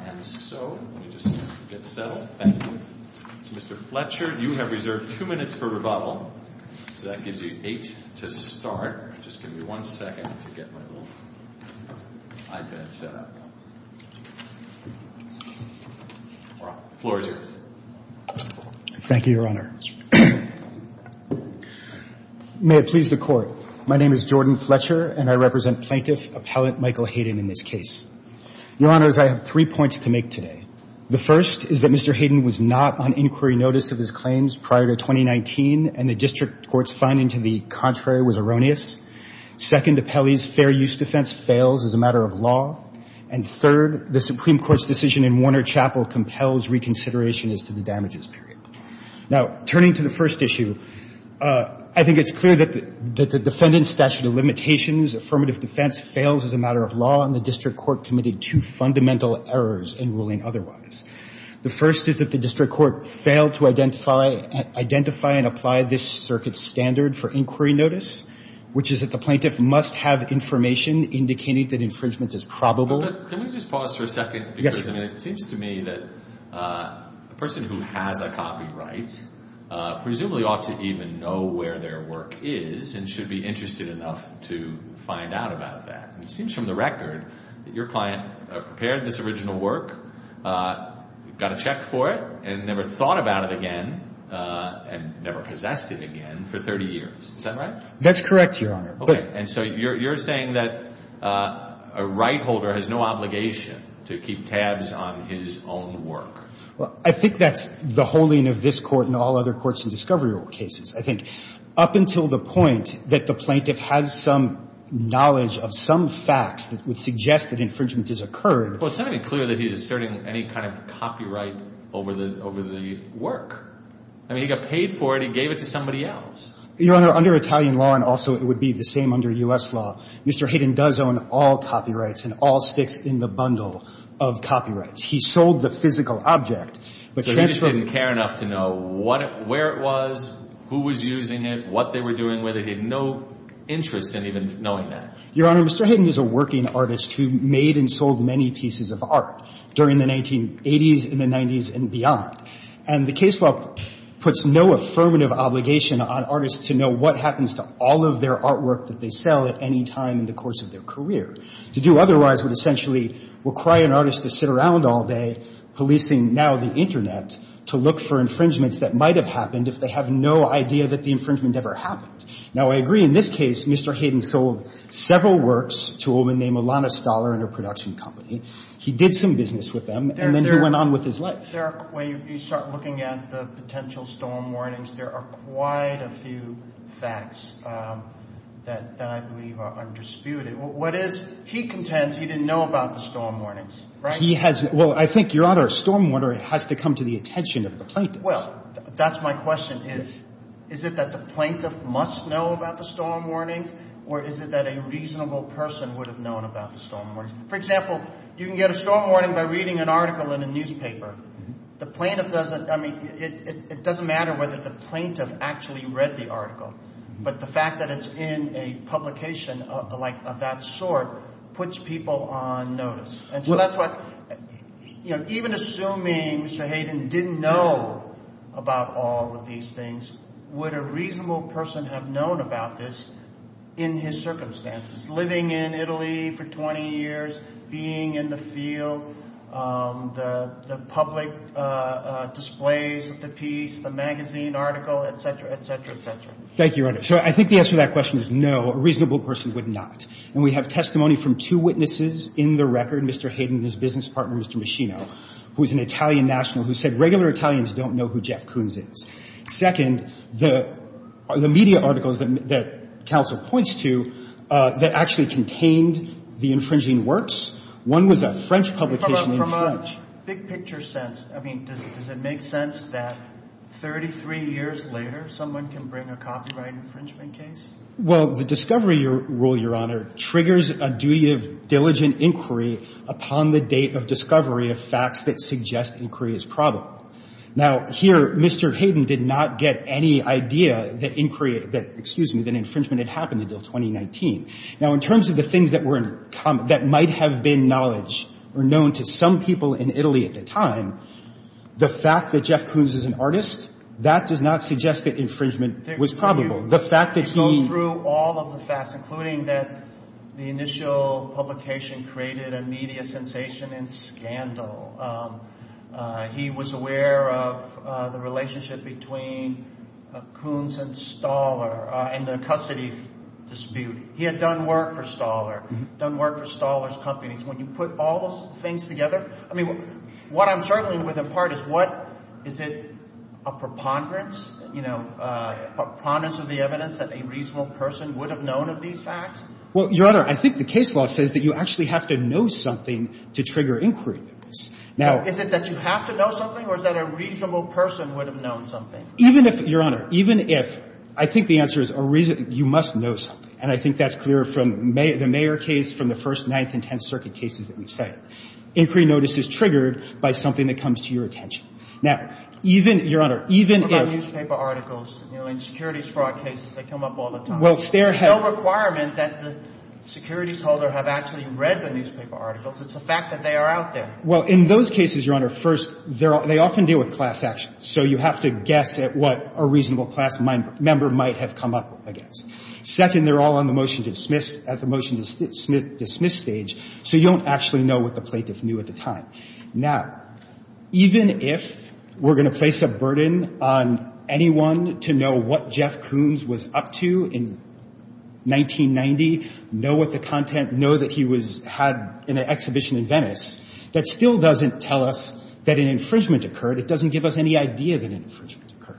and so let me just get settled. Thank you. Mr. Fletcher, you have reserved two minutes for rebuttal. So that gives you eight to start. Just give me one second to get my little iPad set up. All right. The floor is yours. Thank you, Your Honor. May it please the Court. My name is Jordan Fletcher and I represent Plaintiff Appellant Michael Hayden in this case. Your Honors, I have three points to make today. The first is that Mr. Hayden was not on inquiry notice of his claims prior to 2019 and the District Court's finding to the contrary was erroneous. Second, Appellee's fair use defense fails as a matter of law. And third, the Supreme Court's decision in Warner Chapel compels reconsideration as to the damages period. Now, turning to the first issue, I think it's clear that the defendant's statute of limitations affirmative defense fails as a matter of law and the District Court committed two fundamental errors in ruling otherwise. The first is that the District Court failed to identify and apply this circuit standard for inquiry notice, which is that the plaintiff must have information indicating that infringement is probable. Can we just pause for a second? Yes. It seems to me that a person who has a copyright presumably ought to even know where their work is and should be interested enough to find out about that. It seems from the record that your client prepared this original work, got a check for it, and never thought about it again and never possessed it again for 30 years. Is that right? That's correct, Your Honor. Okay. And so you're saying that a right holder has no obligation to keep tabs on his own work. Well, I think that's the holding of this Court and all other courts in discovery rule cases. I think up until the point that the plaintiff has some knowledge of some facts that would suggest that infringement has occurred. Well, it's not even clear that he's asserting any kind of copyright over the work. I mean, he got paid for it. He gave it to somebody else. Your Honor, under Italian law, and also it would be the same under U.S. law, Mr. Hayden does own all copyrights and all sticks in the bundle of copyrights. He sold the physical object. So he just didn't care enough to know where it was, who was using it, what they were doing with it. He had no interest in even knowing that. Your Honor, Mr. Hayden is a working artist who made and sold many pieces of art during the 1980s and the 90s and beyond. And the case law puts no affirmative obligation on artists to know what happens to all of their artwork that they sell at any time in the course of their career. To do otherwise would essentially require an artist to sit around all day policing now the Internet to look for infringements that might have happened if they have no idea that the infringement ever happened. Now, I agree in this case, Mr. Hayden sold several works to a woman named Alana Stoller and her production company. He did some business with them, and then he went on with his life. There are – when you start looking at the potential storm warnings, there are quite a few facts that I believe are undisputed. What is – he contends he didn't know about the storm warnings, right? He has – well, I think, Your Honor, a storm warner has to come to the attention of the plaintiff. Well, that's my question is, is it that the plaintiff must know about the storm warnings or is it that a reasonable person would have known about the storm warnings? For example, you can get a storm warning by reading an article in a newspaper. The plaintiff doesn't – I mean it doesn't matter whether the plaintiff actually read the article, but the fact that it's in a publication of that sort puts people on notice. And so that's what – even assuming Mr. Hayden didn't know about all of these things, would a reasonable person have known about this in his circumstances, living in Italy for 20 years, being in the field, the public displays of the piece, the magazine article, et cetera, et cetera, et cetera? Thank you, Your Honor. So I think the answer to that question is no, a reasonable person would not. And we have testimony from two witnesses in the record, Mr. Hayden and his business partner, Mr. Maschino, who is an Italian national who said regular Italians don't know who Jeff Koons is. Second, the media articles that counsel points to that actually contained the infringing works, one was a French publication in French. From a big-picture sense, I mean, does it make sense that 33 years later someone can bring a copyright infringement case? Well, the discovery rule, Your Honor, triggers a duty of diligent inquiry upon the date of discovery of facts that suggest inquiry is probable. Now, here, Mr. Hayden did not get any idea that inquiry – that, excuse me, that infringement had happened until 2019. Now, in terms of the things that were – that might have been knowledge or known to some people in Italy at the time, the fact that Jeff Koons is an artist, that does not suggest that infringement was probable. The fact that he – He went through all of the facts, including that the initial publication created a media sensation and scandal. He was aware of the relationship between Koons and Stahler and the custody dispute. He had done work for Stahler, done work for Stahler's companies. When you put all those things together – I mean, what I'm struggling with in part is what – is it a preponderance? You know, preponderance of the evidence that a reasonable person would have known of these facts? Well, Your Honor, I think the case law says that you actually have to know something to trigger inquiry. Now – Is it that you have to know something, or is that a reasonable person would have known something? Even if – Your Honor, even if – I think the answer is a reason – you must know something. And I think that's clear from the Mayer case, from the first Ninth and Tenth Circuit cases that we cite. Inquiry notice is triggered by something that comes to your attention. Now, even – Your Honor, even if – What about newspaper articles? You know, in securities fraud cases, they come up all the time. Well, there have – There's no requirement that the securities holder have actually read the newspaper articles. It's a fact that they are out there. Well, in those cases, Your Honor, first, they often deal with class action. So you have to guess at what a reasonable class member might have come up against. Second, they're all on the motion to dismiss – at the motion to dismiss stage. So you don't actually know what the plaintiff knew at the time. Now, even if we're going to place a burden on anyone to know what Jeff Koons was up to in 1990, know what the content, know that he was – had an exhibition in Venice, that still doesn't tell us that an infringement occurred. It doesn't give us any idea that an infringement occurred.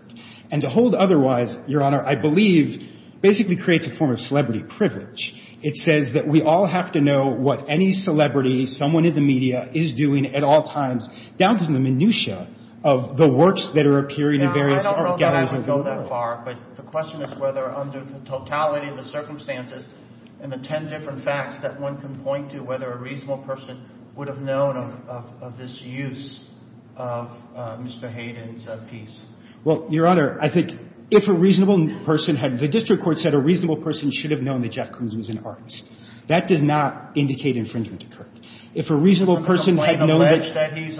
And to hold otherwise, Your Honor, I believe, basically creates a form of celebrity privilege. It says that we all have to know what any celebrity, someone in the media, is doing at all times down to the minutia of the works that are appearing in various galleries. Yeah, I don't know that I can go that far. But the question is whether under the totality of the circumstances and the ten different facts that one can point to whether a reasonable person would have known of this use of Mr. Hayden's piece. Well, Your Honor, I think if a reasonable person had – Mr. Koons was an artist. That does not indicate infringement occurred. If a reasonable person had known that – Does the complaint allege that he's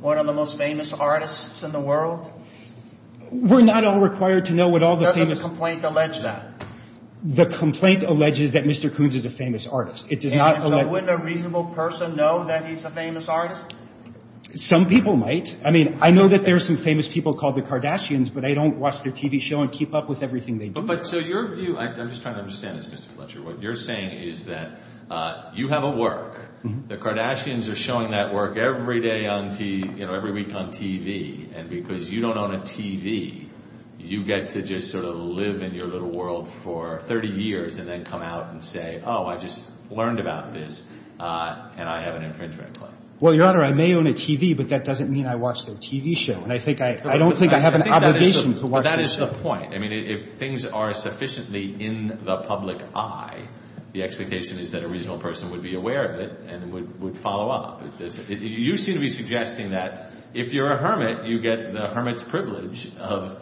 one of the most famous artists in the world? We're not all required to know what all the famous – Does the complaint allege that? The complaint alleges that Mr. Koons is a famous artist. It does not – And so wouldn't a reasonable person know that he's a famous artist? Some people might. I mean, I know that there are some famous people called the Kardashians, but I don't watch their TV show and keep up with everything they do. But so your view – I'm just trying to understand this, Mr. Fletcher. What you're saying is that you have a work. The Kardashians are showing that work every day on – you know, every week on TV. And because you don't own a TV, you get to just sort of live in your little world for 30 years and then come out and say, oh, I just learned about this and I have an infringement claim. Well, Your Honor, I may own a TV, but that doesn't mean I watch their TV show. And I think I – I don't think I have an obligation to watch their TV show. But that is the point. I mean, if things are sufficiently in the public eye, the expectation is that a reasonable person would be aware of it and would follow up. You seem to be suggesting that if you're a hermit, you get the hermit's privilege of,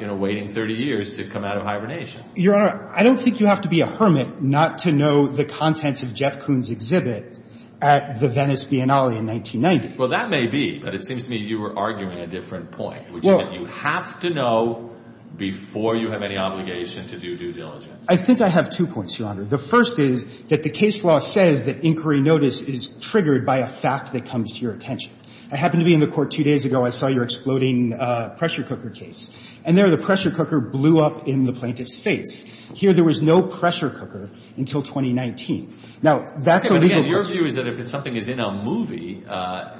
you know, waiting 30 years to come out of hibernation. Your Honor, I don't think you have to be a hermit not to know the contents of Jeff Koons' exhibit at the Venice Biennale in 1990. Well, that may be, but it seems to me you were arguing a different point, which is that you have to know before you have any obligation to do due diligence. I think I have two points, Your Honor. The first is that the case law says that inquiry notice is triggered by a fact that comes to your attention. I happened to be in the court two days ago. I saw your exploding pressure cooker case. And there the pressure cooker blew up in the plaintiff's face. Here there was no pressure cooker until 2019. Now, that's a legal question. Okay, but again, your view is that if something is in a movie,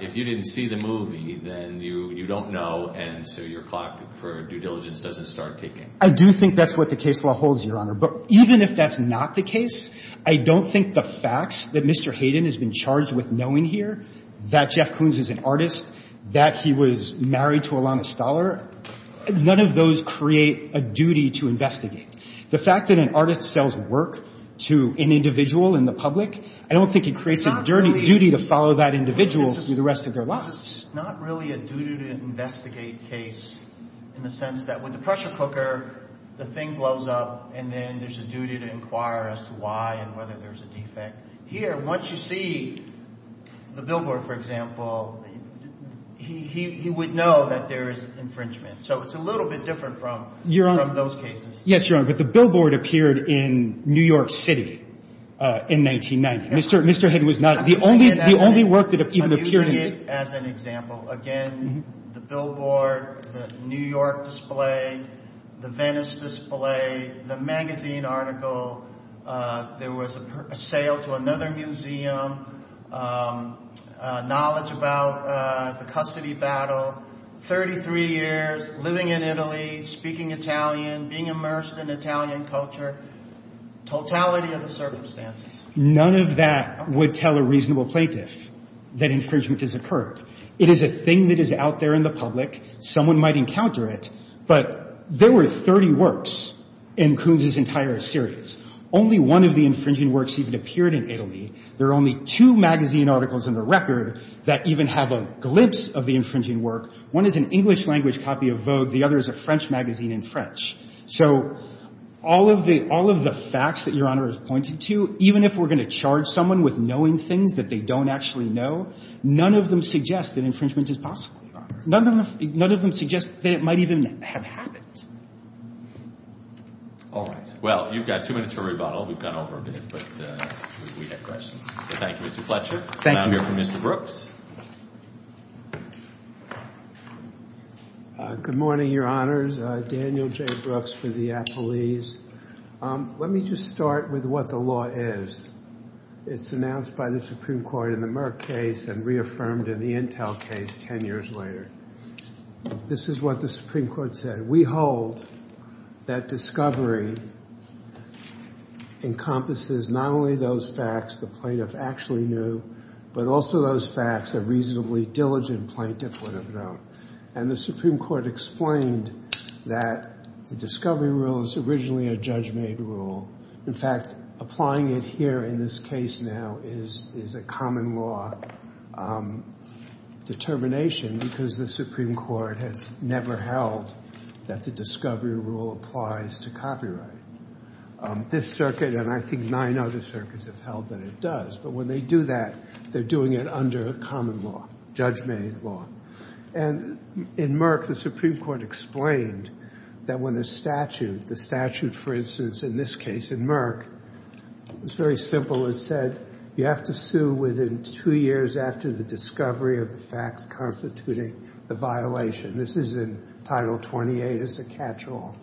if you didn't see the movie, then you don't know, and so your clock for due diligence doesn't start ticking. I do think that's what the case law holds, Your Honor. But even if that's not the case, I don't think the facts that Mr. Hayden has been charged with knowing here that Jeff Koons is an artist, that he was married to Ilana Stoller, none of those create a duty to investigate. The fact that an artist sells work to an individual in the public, I don't think it creates a duty to follow that individual through the rest of their lives. This is not really a duty to investigate case in the sense that with the pressure cooker, the thing blows up, and then there's a duty to inquire as to why and whether there's a defect. Here, once you see the billboard, for example, he would know that there is infringement. So it's a little bit different from those cases. Yes, Your Honor, but the billboard appeared in New York City in 1990. Mr. Hayden was not the only work that even appeared in the city. I'm using it as an example. Again, the billboard, the New York display, the Venice display, the magazine article, there was a sale to another museum, knowledge about the custody battle, 33 years, living in Italy, speaking Italian, being immersed in Italian culture, totality of the circumstances. None of that would tell a reasonable plaintiff that infringement has occurred. It is a thing that is out there in the public. Someone might encounter it, but there were 30 works in Kunz's entire series. Only one of the infringing works even appeared in Italy. There are only two magazine articles in the record that even have a glimpse of the infringing work. One is an English language copy of Vogue. The other is a French magazine in French. So all of the facts that Your Honor has pointed to, even if we're going to charge someone with knowing things that they don't actually know, none of them suggest that infringement is possible, Your Honor. None of them suggest that it might even have happened. All right. Well, you've got two minutes for rebuttal. We've gone over a bit, but we have questions. So thank you, Mr. Fletcher. Thank you. And I'll hear from Mr. Brooks. Good morning, Your Honors. Daniel J. Brooks for the Appleese. Let me just start with what the law is. It's announced by the Supreme Court in the Merck case and reaffirmed in the Intel case 10 years later. This is what the Supreme Court said. We hold that discovery encompasses not only those facts the plaintiff actually knew, but also those facts a reasonably diligent plaintiff would have known. And the Supreme Court explained that the discovery rule is originally a judge-made rule. In fact, applying it here in this case now is a common law determination because the Supreme Court has never held that the discovery rule applies to copyright. This circuit and I think nine other circuits have held that it does. But when they do that, they're doing it under a common law, judge-made law. And in Merck, the Supreme Court explained that when a statute, the statute, for instance, in this case in Merck, it's very simple. It said you have to sue within two years after the discovery of the facts constituting the violation. This is in Title 28. It's a catch-all.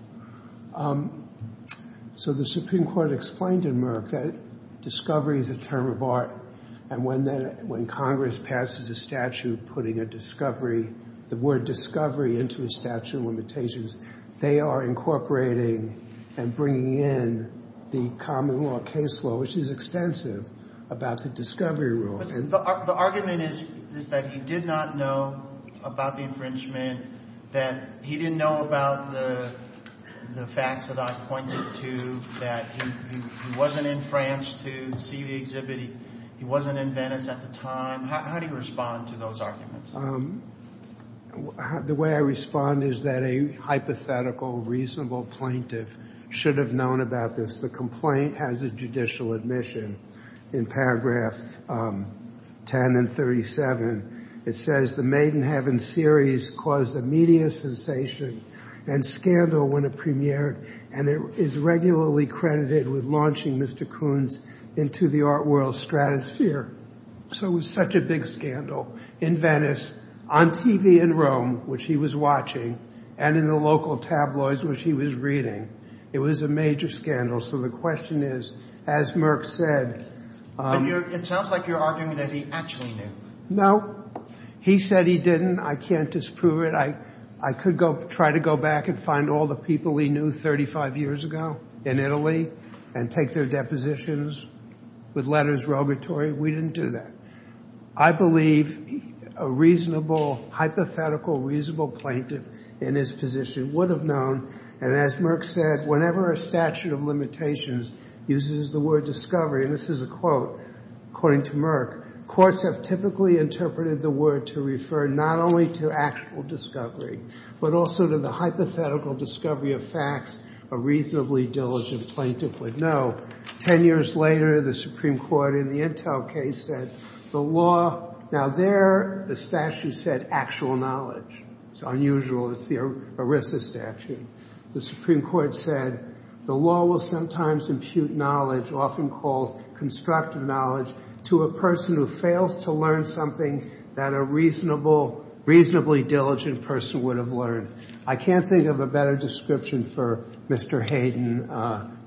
So the Supreme Court explained in Merck that discovery is a term of art, and when Congress passes a statute putting a discovery, the word discovery into a statute of limitations, they are incorporating and bringing in the common law case law, which is extensive, about the discovery rule. The argument is that he did not know about the infringement, that he didn't know about the facts that I pointed to, that he wasn't in France to see the exhibit, he wasn't in Venice at the time. How do you respond to those arguments? The way I respond is that a hypothetical, reasonable plaintiff should have known about this. The complaint has a judicial admission in paragraph 10 and 37. It says the Made in Heaven series caused a media sensation and scandal when it premiered, and it is regularly credited with launching Mr. Kunz into the art world's stratosphere. So it was such a big scandal in Venice, on TV in Rome, which he was watching, and in the local tabloids, which he was reading. It was a major scandal. So the question is, as Merck said— It sounds like you're arguing that he actually knew. No. He said he didn't. I can't disprove it. I could try to go back and find all the people he knew 35 years ago in Italy and take their depositions with letters rogatory. We didn't do that. I believe a reasonable, hypothetical, reasonable plaintiff in his position would have known, and as Merck said, whenever a statute of limitations uses the word discovery, and this is a quote, according to Merck, courts have typically interpreted the word to refer not only to actual discovery but also to the hypothetical discovery of facts a reasonably diligent plaintiff would know. Ten years later, the Supreme Court in the Intel case said the law— Now there, the statute said actual knowledge. It's unusual. It's the ERISA statute. The Supreme Court said the law will sometimes impute knowledge, often called constructive knowledge, to a person who fails to learn something that a reasonable, reasonably diligent person would have learned. I can't think of a better description for Mr. Hayden.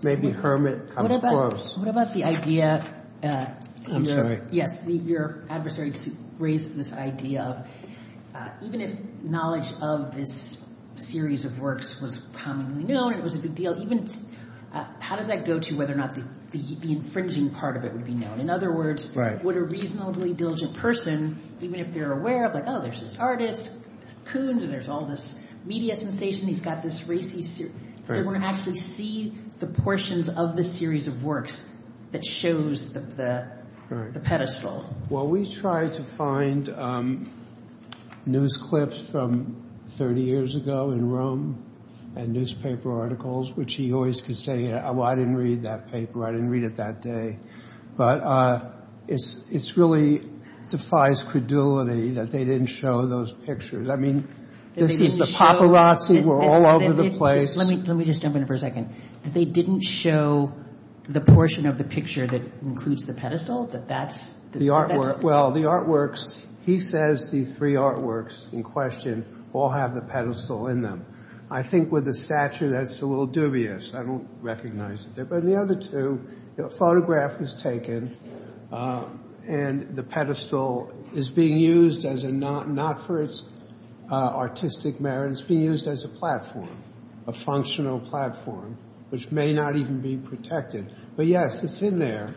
Maybe Kermit comes close. What about the idea— I'm sorry. Yes, your adversary raised this idea of even if knowledge of this series of works was commonly known and it was a big deal, how does that go to whether or not the infringing part of it would be known? In other words, would a reasonably diligent person, even if they're aware of, like, oh, there's this artist, Coons, and there's all this media sensation, he's got this race, they wouldn't actually see the portions of this series of works that shows the pedestal. Well, we tried to find news clips from 30 years ago in Rome and newspaper articles, which he always could say, well, I didn't read that paper, I didn't read it that day. But it really defies credulity that they didn't show those pictures. I mean, this is the paparazzi. We're all over the place. Let me just jump in for a second. They didn't show the portion of the picture that includes the pedestal, that that's— Well, the artworks, he says the three artworks in question all have the pedestal in them. I think with the statue that's a little dubious. I don't recognize it. But the other two, a photograph was taken, and the pedestal is being used as a— not for its artistic merit, it's being used as a platform, a functional platform, which may not even be protected. But yes, it's in there.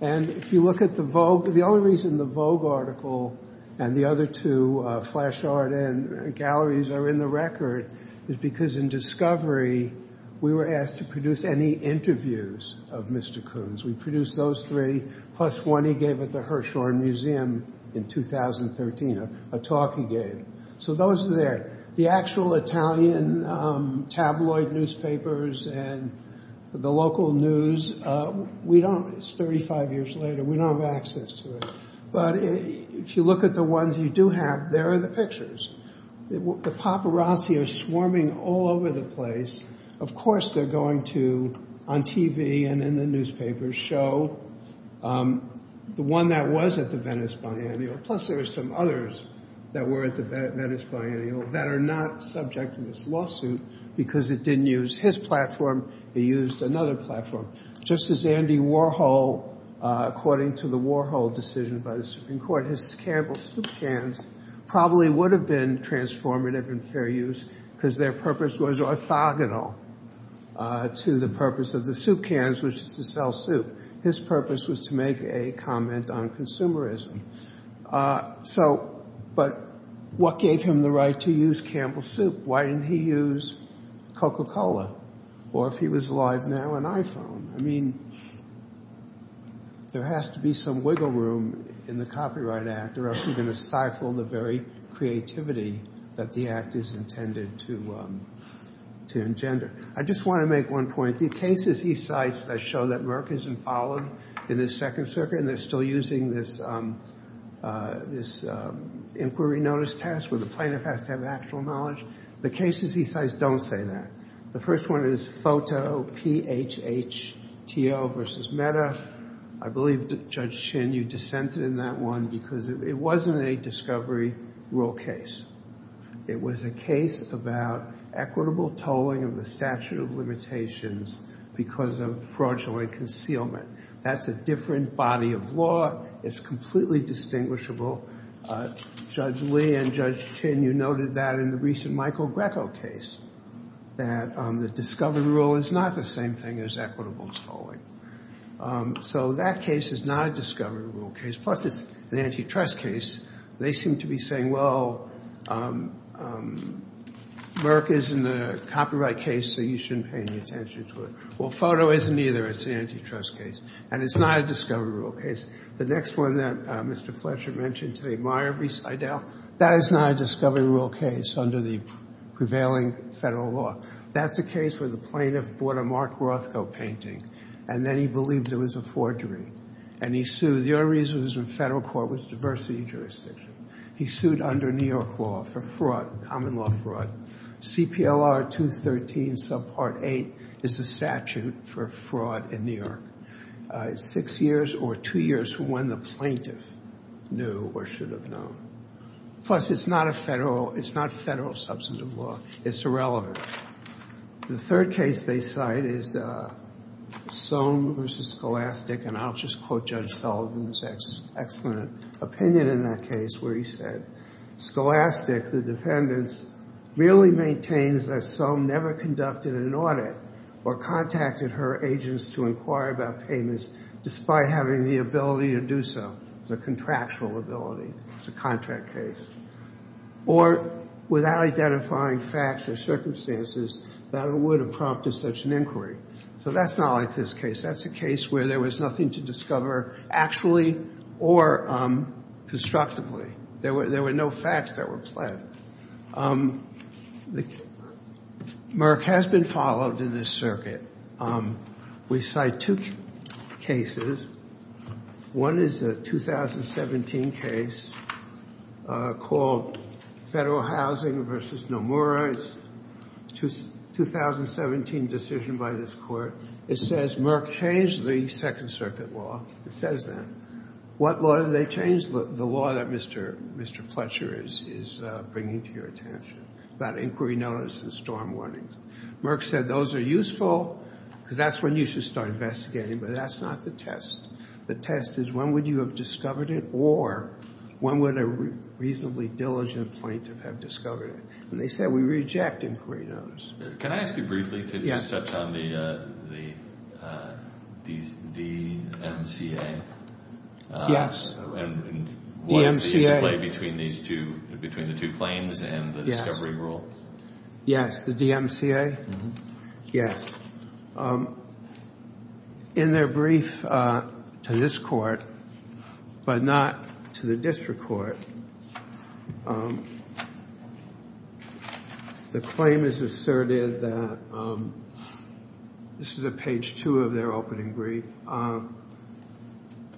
And if you look at the Vogue, the only reason the Vogue article and the other two, Flash Art and Galleries, are in the record is because in Discovery we were asked to produce any interviews of Mr. Kuhn's. We produced those three, plus one he gave at the Hirshhorn Museum in 2013, a talk he gave. So those are there. The actual Italian tabloid newspapers and the local news, we don't— it's 35 years later, we don't have access to it. But if you look at the ones you do have, there are the pictures. The paparazzi are swarming all over the place. Of course they're going to, on TV and in the newspapers, show the one that was at the Venice Biennial. Plus there were some others that were at the Venice Biennial that are not subject to this lawsuit because it didn't use his platform, it used another platform. Just as Andy Warhol, according to the Warhol decision by the Supreme Court, his Campbell Soup cans probably would have been transformative and fair use because their purpose was orthogonal to the purpose of the soup cans, which is to sell soup. His purpose was to make a comment on consumerism. But what gave him the right to use Campbell Soup? Why didn't he use Coca-Cola? Or if he was live now, an iPhone? I mean, there has to be some wiggle room in the Copyright Act or else you're going to stifle the very creativity that the Act is intended to engender. I just want to make one point. The cases he cites that show that Merck isn't followed in the Second Circuit and they're still using this inquiry notice test where the plaintiff has to have actual knowledge, the cases he cites don't say that. The first one is Foto, P-H-H-T-O versus Meta. I believe, Judge Chin, you dissented in that one because it wasn't a discovery rule case. It was a case about equitable tolling of the statute of limitations because of fraudulent concealment. That's a different body of law. It's completely distinguishable. Judge Lee and Judge Chin, you noted that in the recent Michael Greco case, that the discovery rule is not the same thing as equitable tolling. So that case is not a discovery rule case. Plus, it's an antitrust case. They seem to be saying, well, Merck is in the copyright case, so you shouldn't pay any attention to it. Well, Foto isn't either. It's an antitrust case. And it's not a discovery rule case. The next one that Mr. Fletcher mentioned today, Meyer v. Seidel, that is not a discovery rule case under the prevailing federal law. That's a case where the plaintiff bought a Mark Rothko painting, and then he believed it was a forgery, and he sued. The only reason it was in federal court was diversity of jurisdiction. He sued under New York law for fraud, common law fraud. CPLR 213 subpart 8 is the statute for fraud in New York. It's six years or two years from when the plaintiff knew or should have known. Plus, it's not federal substantive law. It's irrelevant. The third case they cite is Soam v. Scholastic, and I'll just quote Judge Sullivan's excellent opinion in that case, where he said, Scholastic, the defendants, merely maintains that Soam never conducted an audit or contacted her agents to inquire about payments despite having the ability to do so. It's a contractual ability. It's a contract case. Or without identifying facts or circumstances that would have prompted such an inquiry. So that's not like this case. That's a case where there was nothing to discover actually or constructively. There were no facts that were pled. Merck has been followed in this circuit. We cite two cases. One is a 2017 case called Federal Housing v. Nomura. It's a 2017 decision by this court. It says Merck changed the Second Circuit law. It says that. What law did they change? The law that Mr. Fletcher is bringing to your attention about inquiry notice and storm warnings. Merck said those are useful because that's when you should start investigating, but that's not the test. The test is when would you have discovered it or when would a reasonably diligent plaintiff have discovered it? And they said we reject inquiry notice. Can I ask you briefly to just touch on the DMCA? Yes. DMCA. And what is at play between the two claims and the discovery rule? The DMCA? Yes. In their brief to this court, but not to the district court, the claim is asserted that this is at page two of their opening brief.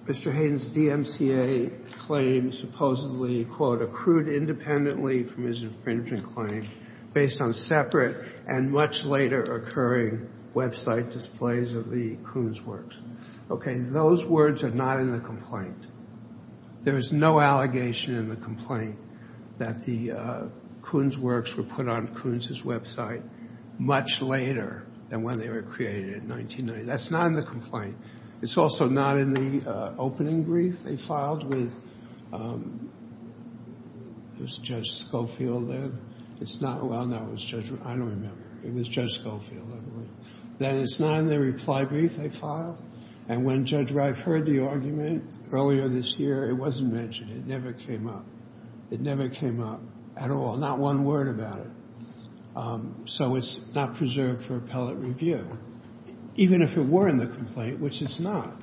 Mr. Hayden's DMCA claim supposedly, quote, accrued independently from his infringement claim based on separate and much later occurring website displays of the Kuhn's works. Okay, those words are not in the complaint. There is no allegation in the complaint that the Kuhn's works were put on Kuhn's' website much later than when they were created in 1990. That's not in the complaint. It's also not in the opening brief they filed with Judge Schofield there. It's not. Well, no, it was Judge, I don't remember. It was Judge Schofield. Then it's not in the reply brief they filed. And when Judge Wright heard the argument earlier this year, it wasn't mentioned. It never came up. It never came up at all, not one word about it. So it's not preserved for appellate review. Even if it were in the complaint, which it's not.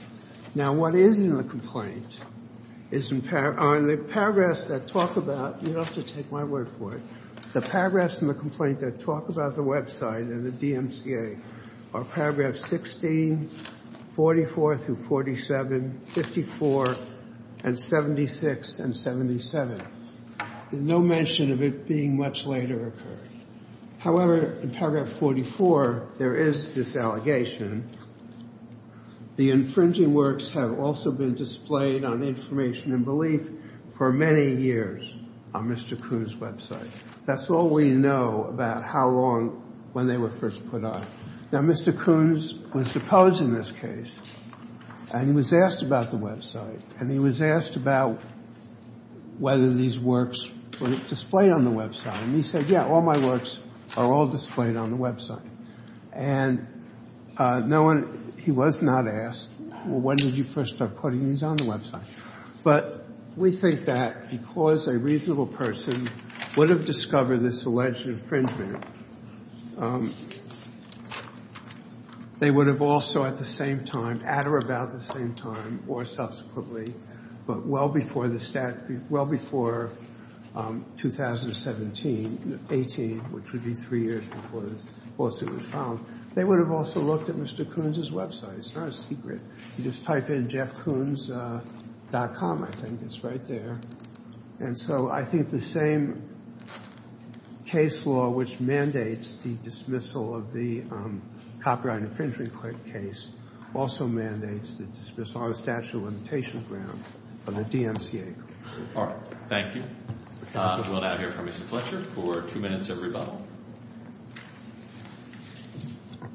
Now, what is in the complaint is in the paragraphs that talk about, you'll have to take my word for it, the paragraphs in the complaint that talk about the website and the DMCA are paragraphs 16, 44 through 47, 54, and 76 and 77. There's no mention of it being much later occurred. However, in paragraph 44, there is this allegation. The infringing works have also been displayed on Information and Belief for many years on Mr. Kuhn's website. That's all we know about how long when they were first put on. Now, Mr. Kuhn was deposed in this case, and he was asked about the website, and he was asked about whether these works were displayed on the website. And he said, yeah, all my works are all displayed on the website. And he was not asked, well, when did you first start putting these on the website? But we think that because a reasonable person would have discovered this alleged infringement, they would have also at the same time, at or about the same time, or subsequently, but well before the statute, well before 2017, 18, which would be three years before this lawsuit was filed, they would have also looked at Mr. Kuhn's website. It's not a secret. You just type in JeffKuhns.com, I think it's right there. And so I think the same case law which mandates the dismissal of the copyright infringement case also mandates the dismissal of the statute of limitation of grounds from the DMCA. All right. Thank you. We'll now hear from Mr. Fletcher for two minutes of rebuttal.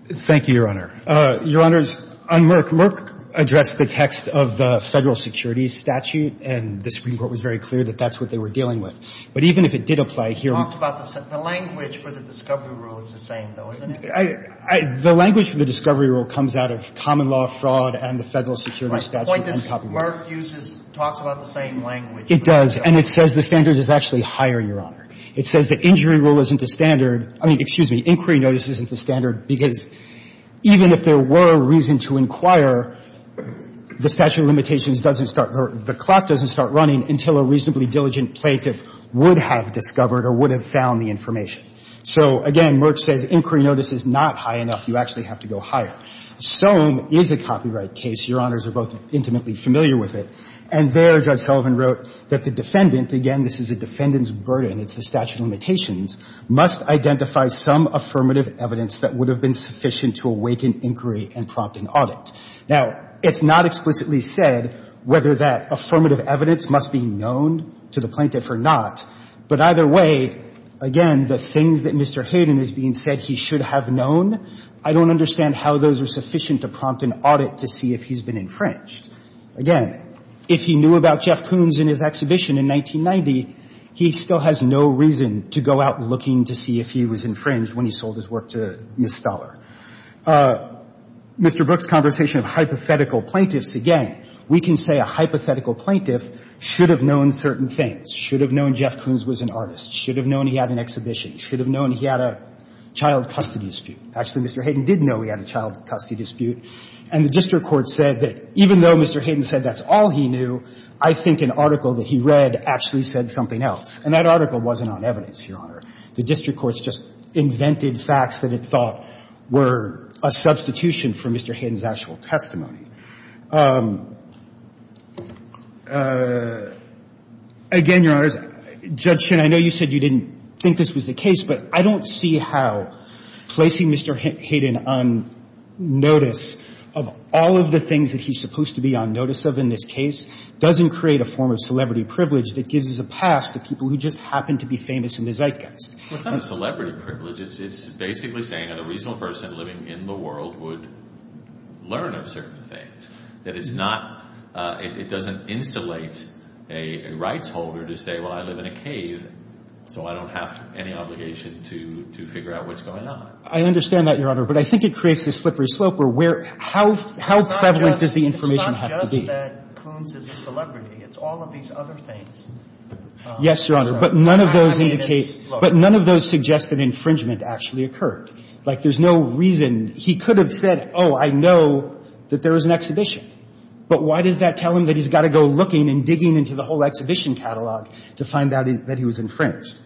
Thank you, Your Honor. Your Honors, on Merck, Merck addressed the text of the Federal Security Statute, and the Supreme Court was very clear that that's what they were dealing with. But even if it did apply here we need to be careful. He talks about the language for the discovery rule is the same, though, isn't it? The language for the discovery rule comes out of common law fraud and the Federal Security Statute and copyright. The point is Merck uses, talks about the same language. It does. And it says the standard is actually higher, Your Honor. It says the injury rule isn't the standard. I mean, excuse me, inquiry notice isn't the standard because even if there were a reason to inquire, the statute of limitations doesn't start or the clock doesn't start running until a reasonably diligent plaintiff would have discovered or would have found the information. So, again, Merck says inquiry notice is not high enough. You actually have to go higher. Sohm is a copyright case. Your Honors are both intimately familiar with it. And there Judge Sullivan wrote that the defendant, again, this is a defendant's burden. It's the statute of limitations, must identify some affirmative evidence that would have been sufficient to awaken inquiry and prompt an audit. Now, it's not explicitly said whether that affirmative evidence must be known to the plaintiff or not. But either way, again, the things that Mr. Hayden is being said he should have known, I don't understand how those are sufficient to prompt an audit to see if he's been infringed. Again, if he knew about Jeff Koons and his exhibition in 1990, he still has no reason to go out looking to see if he was infringed when he sold his work to Ms. Stoller. Mr. Brooks' conversation of hypothetical plaintiffs, again, we can say a hypothetical plaintiff should have known certain things. Should have known Jeff Koons was an artist. Should have known he had an exhibition. Should have known he had a child custody dispute. Actually, Mr. Hayden did know he had a child custody dispute. And the district court said that even though Mr. Hayden said that's all he knew, I think an article that he read actually said something else. And that article wasn't on evidence, Your Honor. The district court's just invented facts that it thought were a substitution for Mr. Hayden's actual testimony. Again, Your Honors, Judge Shin, I know you said you didn't think this was the case, but I don't see how placing Mr. Hayden on notice of all of the things that he's supposed to be on notice of in this case doesn't create a form of celebrity privilege that gives us a pass to people who just happen to be famous and they're zeitgeists. Well, it's not a celebrity privilege. It's basically saying that a reasonable person living in the world would learn about certain things. That it's not — it doesn't insulate a rights holder to say, well, I live in a cave, so I don't have any obligation to figure out what's going on. I understand that, Your Honor. But I think it creates this slippery slope where — how prevalent does the information have to be? It's not just that Coons is a celebrity. It's all of these other things. Yes, Your Honor. But none of those indicate — but none of those suggest that infringement actually occurred. Like, there's no reason. He could have said, oh, I know that there was an exhibition. But why does that tell him that he's got to go looking and digging into the whole exhibition catalog to find out that he was infringed?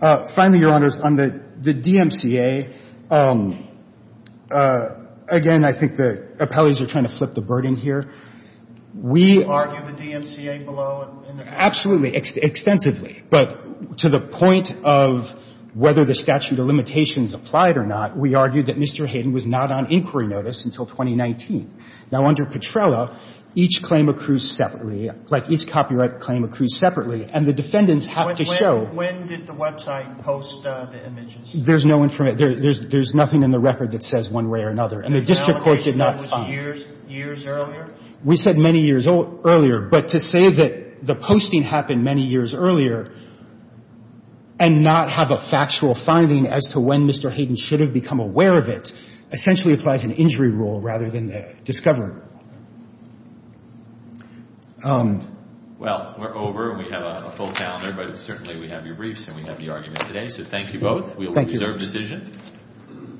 Finally, Your Honors, on the DMCA, again, I think the appellees are trying to flip the burden here. We argue the DMCA below in the — Absolutely. Extensively. But to the point of whether the statute of limitations applied or not, we argued that Mr. Hayden was not on inquiry notice until 2019. Now, under Petrella, each claim accrues separately. Like, each copyright claim accrues separately. And the defendants have to show — When did the website post the images? There's no information. There's nothing in the record that says one way or another. And the district court did not find it. Was it years earlier? We said many years earlier. But to say that the posting happened many years earlier and not have a factual finding as to when Mr. Hayden should have become aware of it essentially applies an injury rule rather than a discovery rule. Well, we're over and we have a full calendar, but certainly we have your briefs and we have the argument today. So thank you both. Thank you. We'll reserve decision.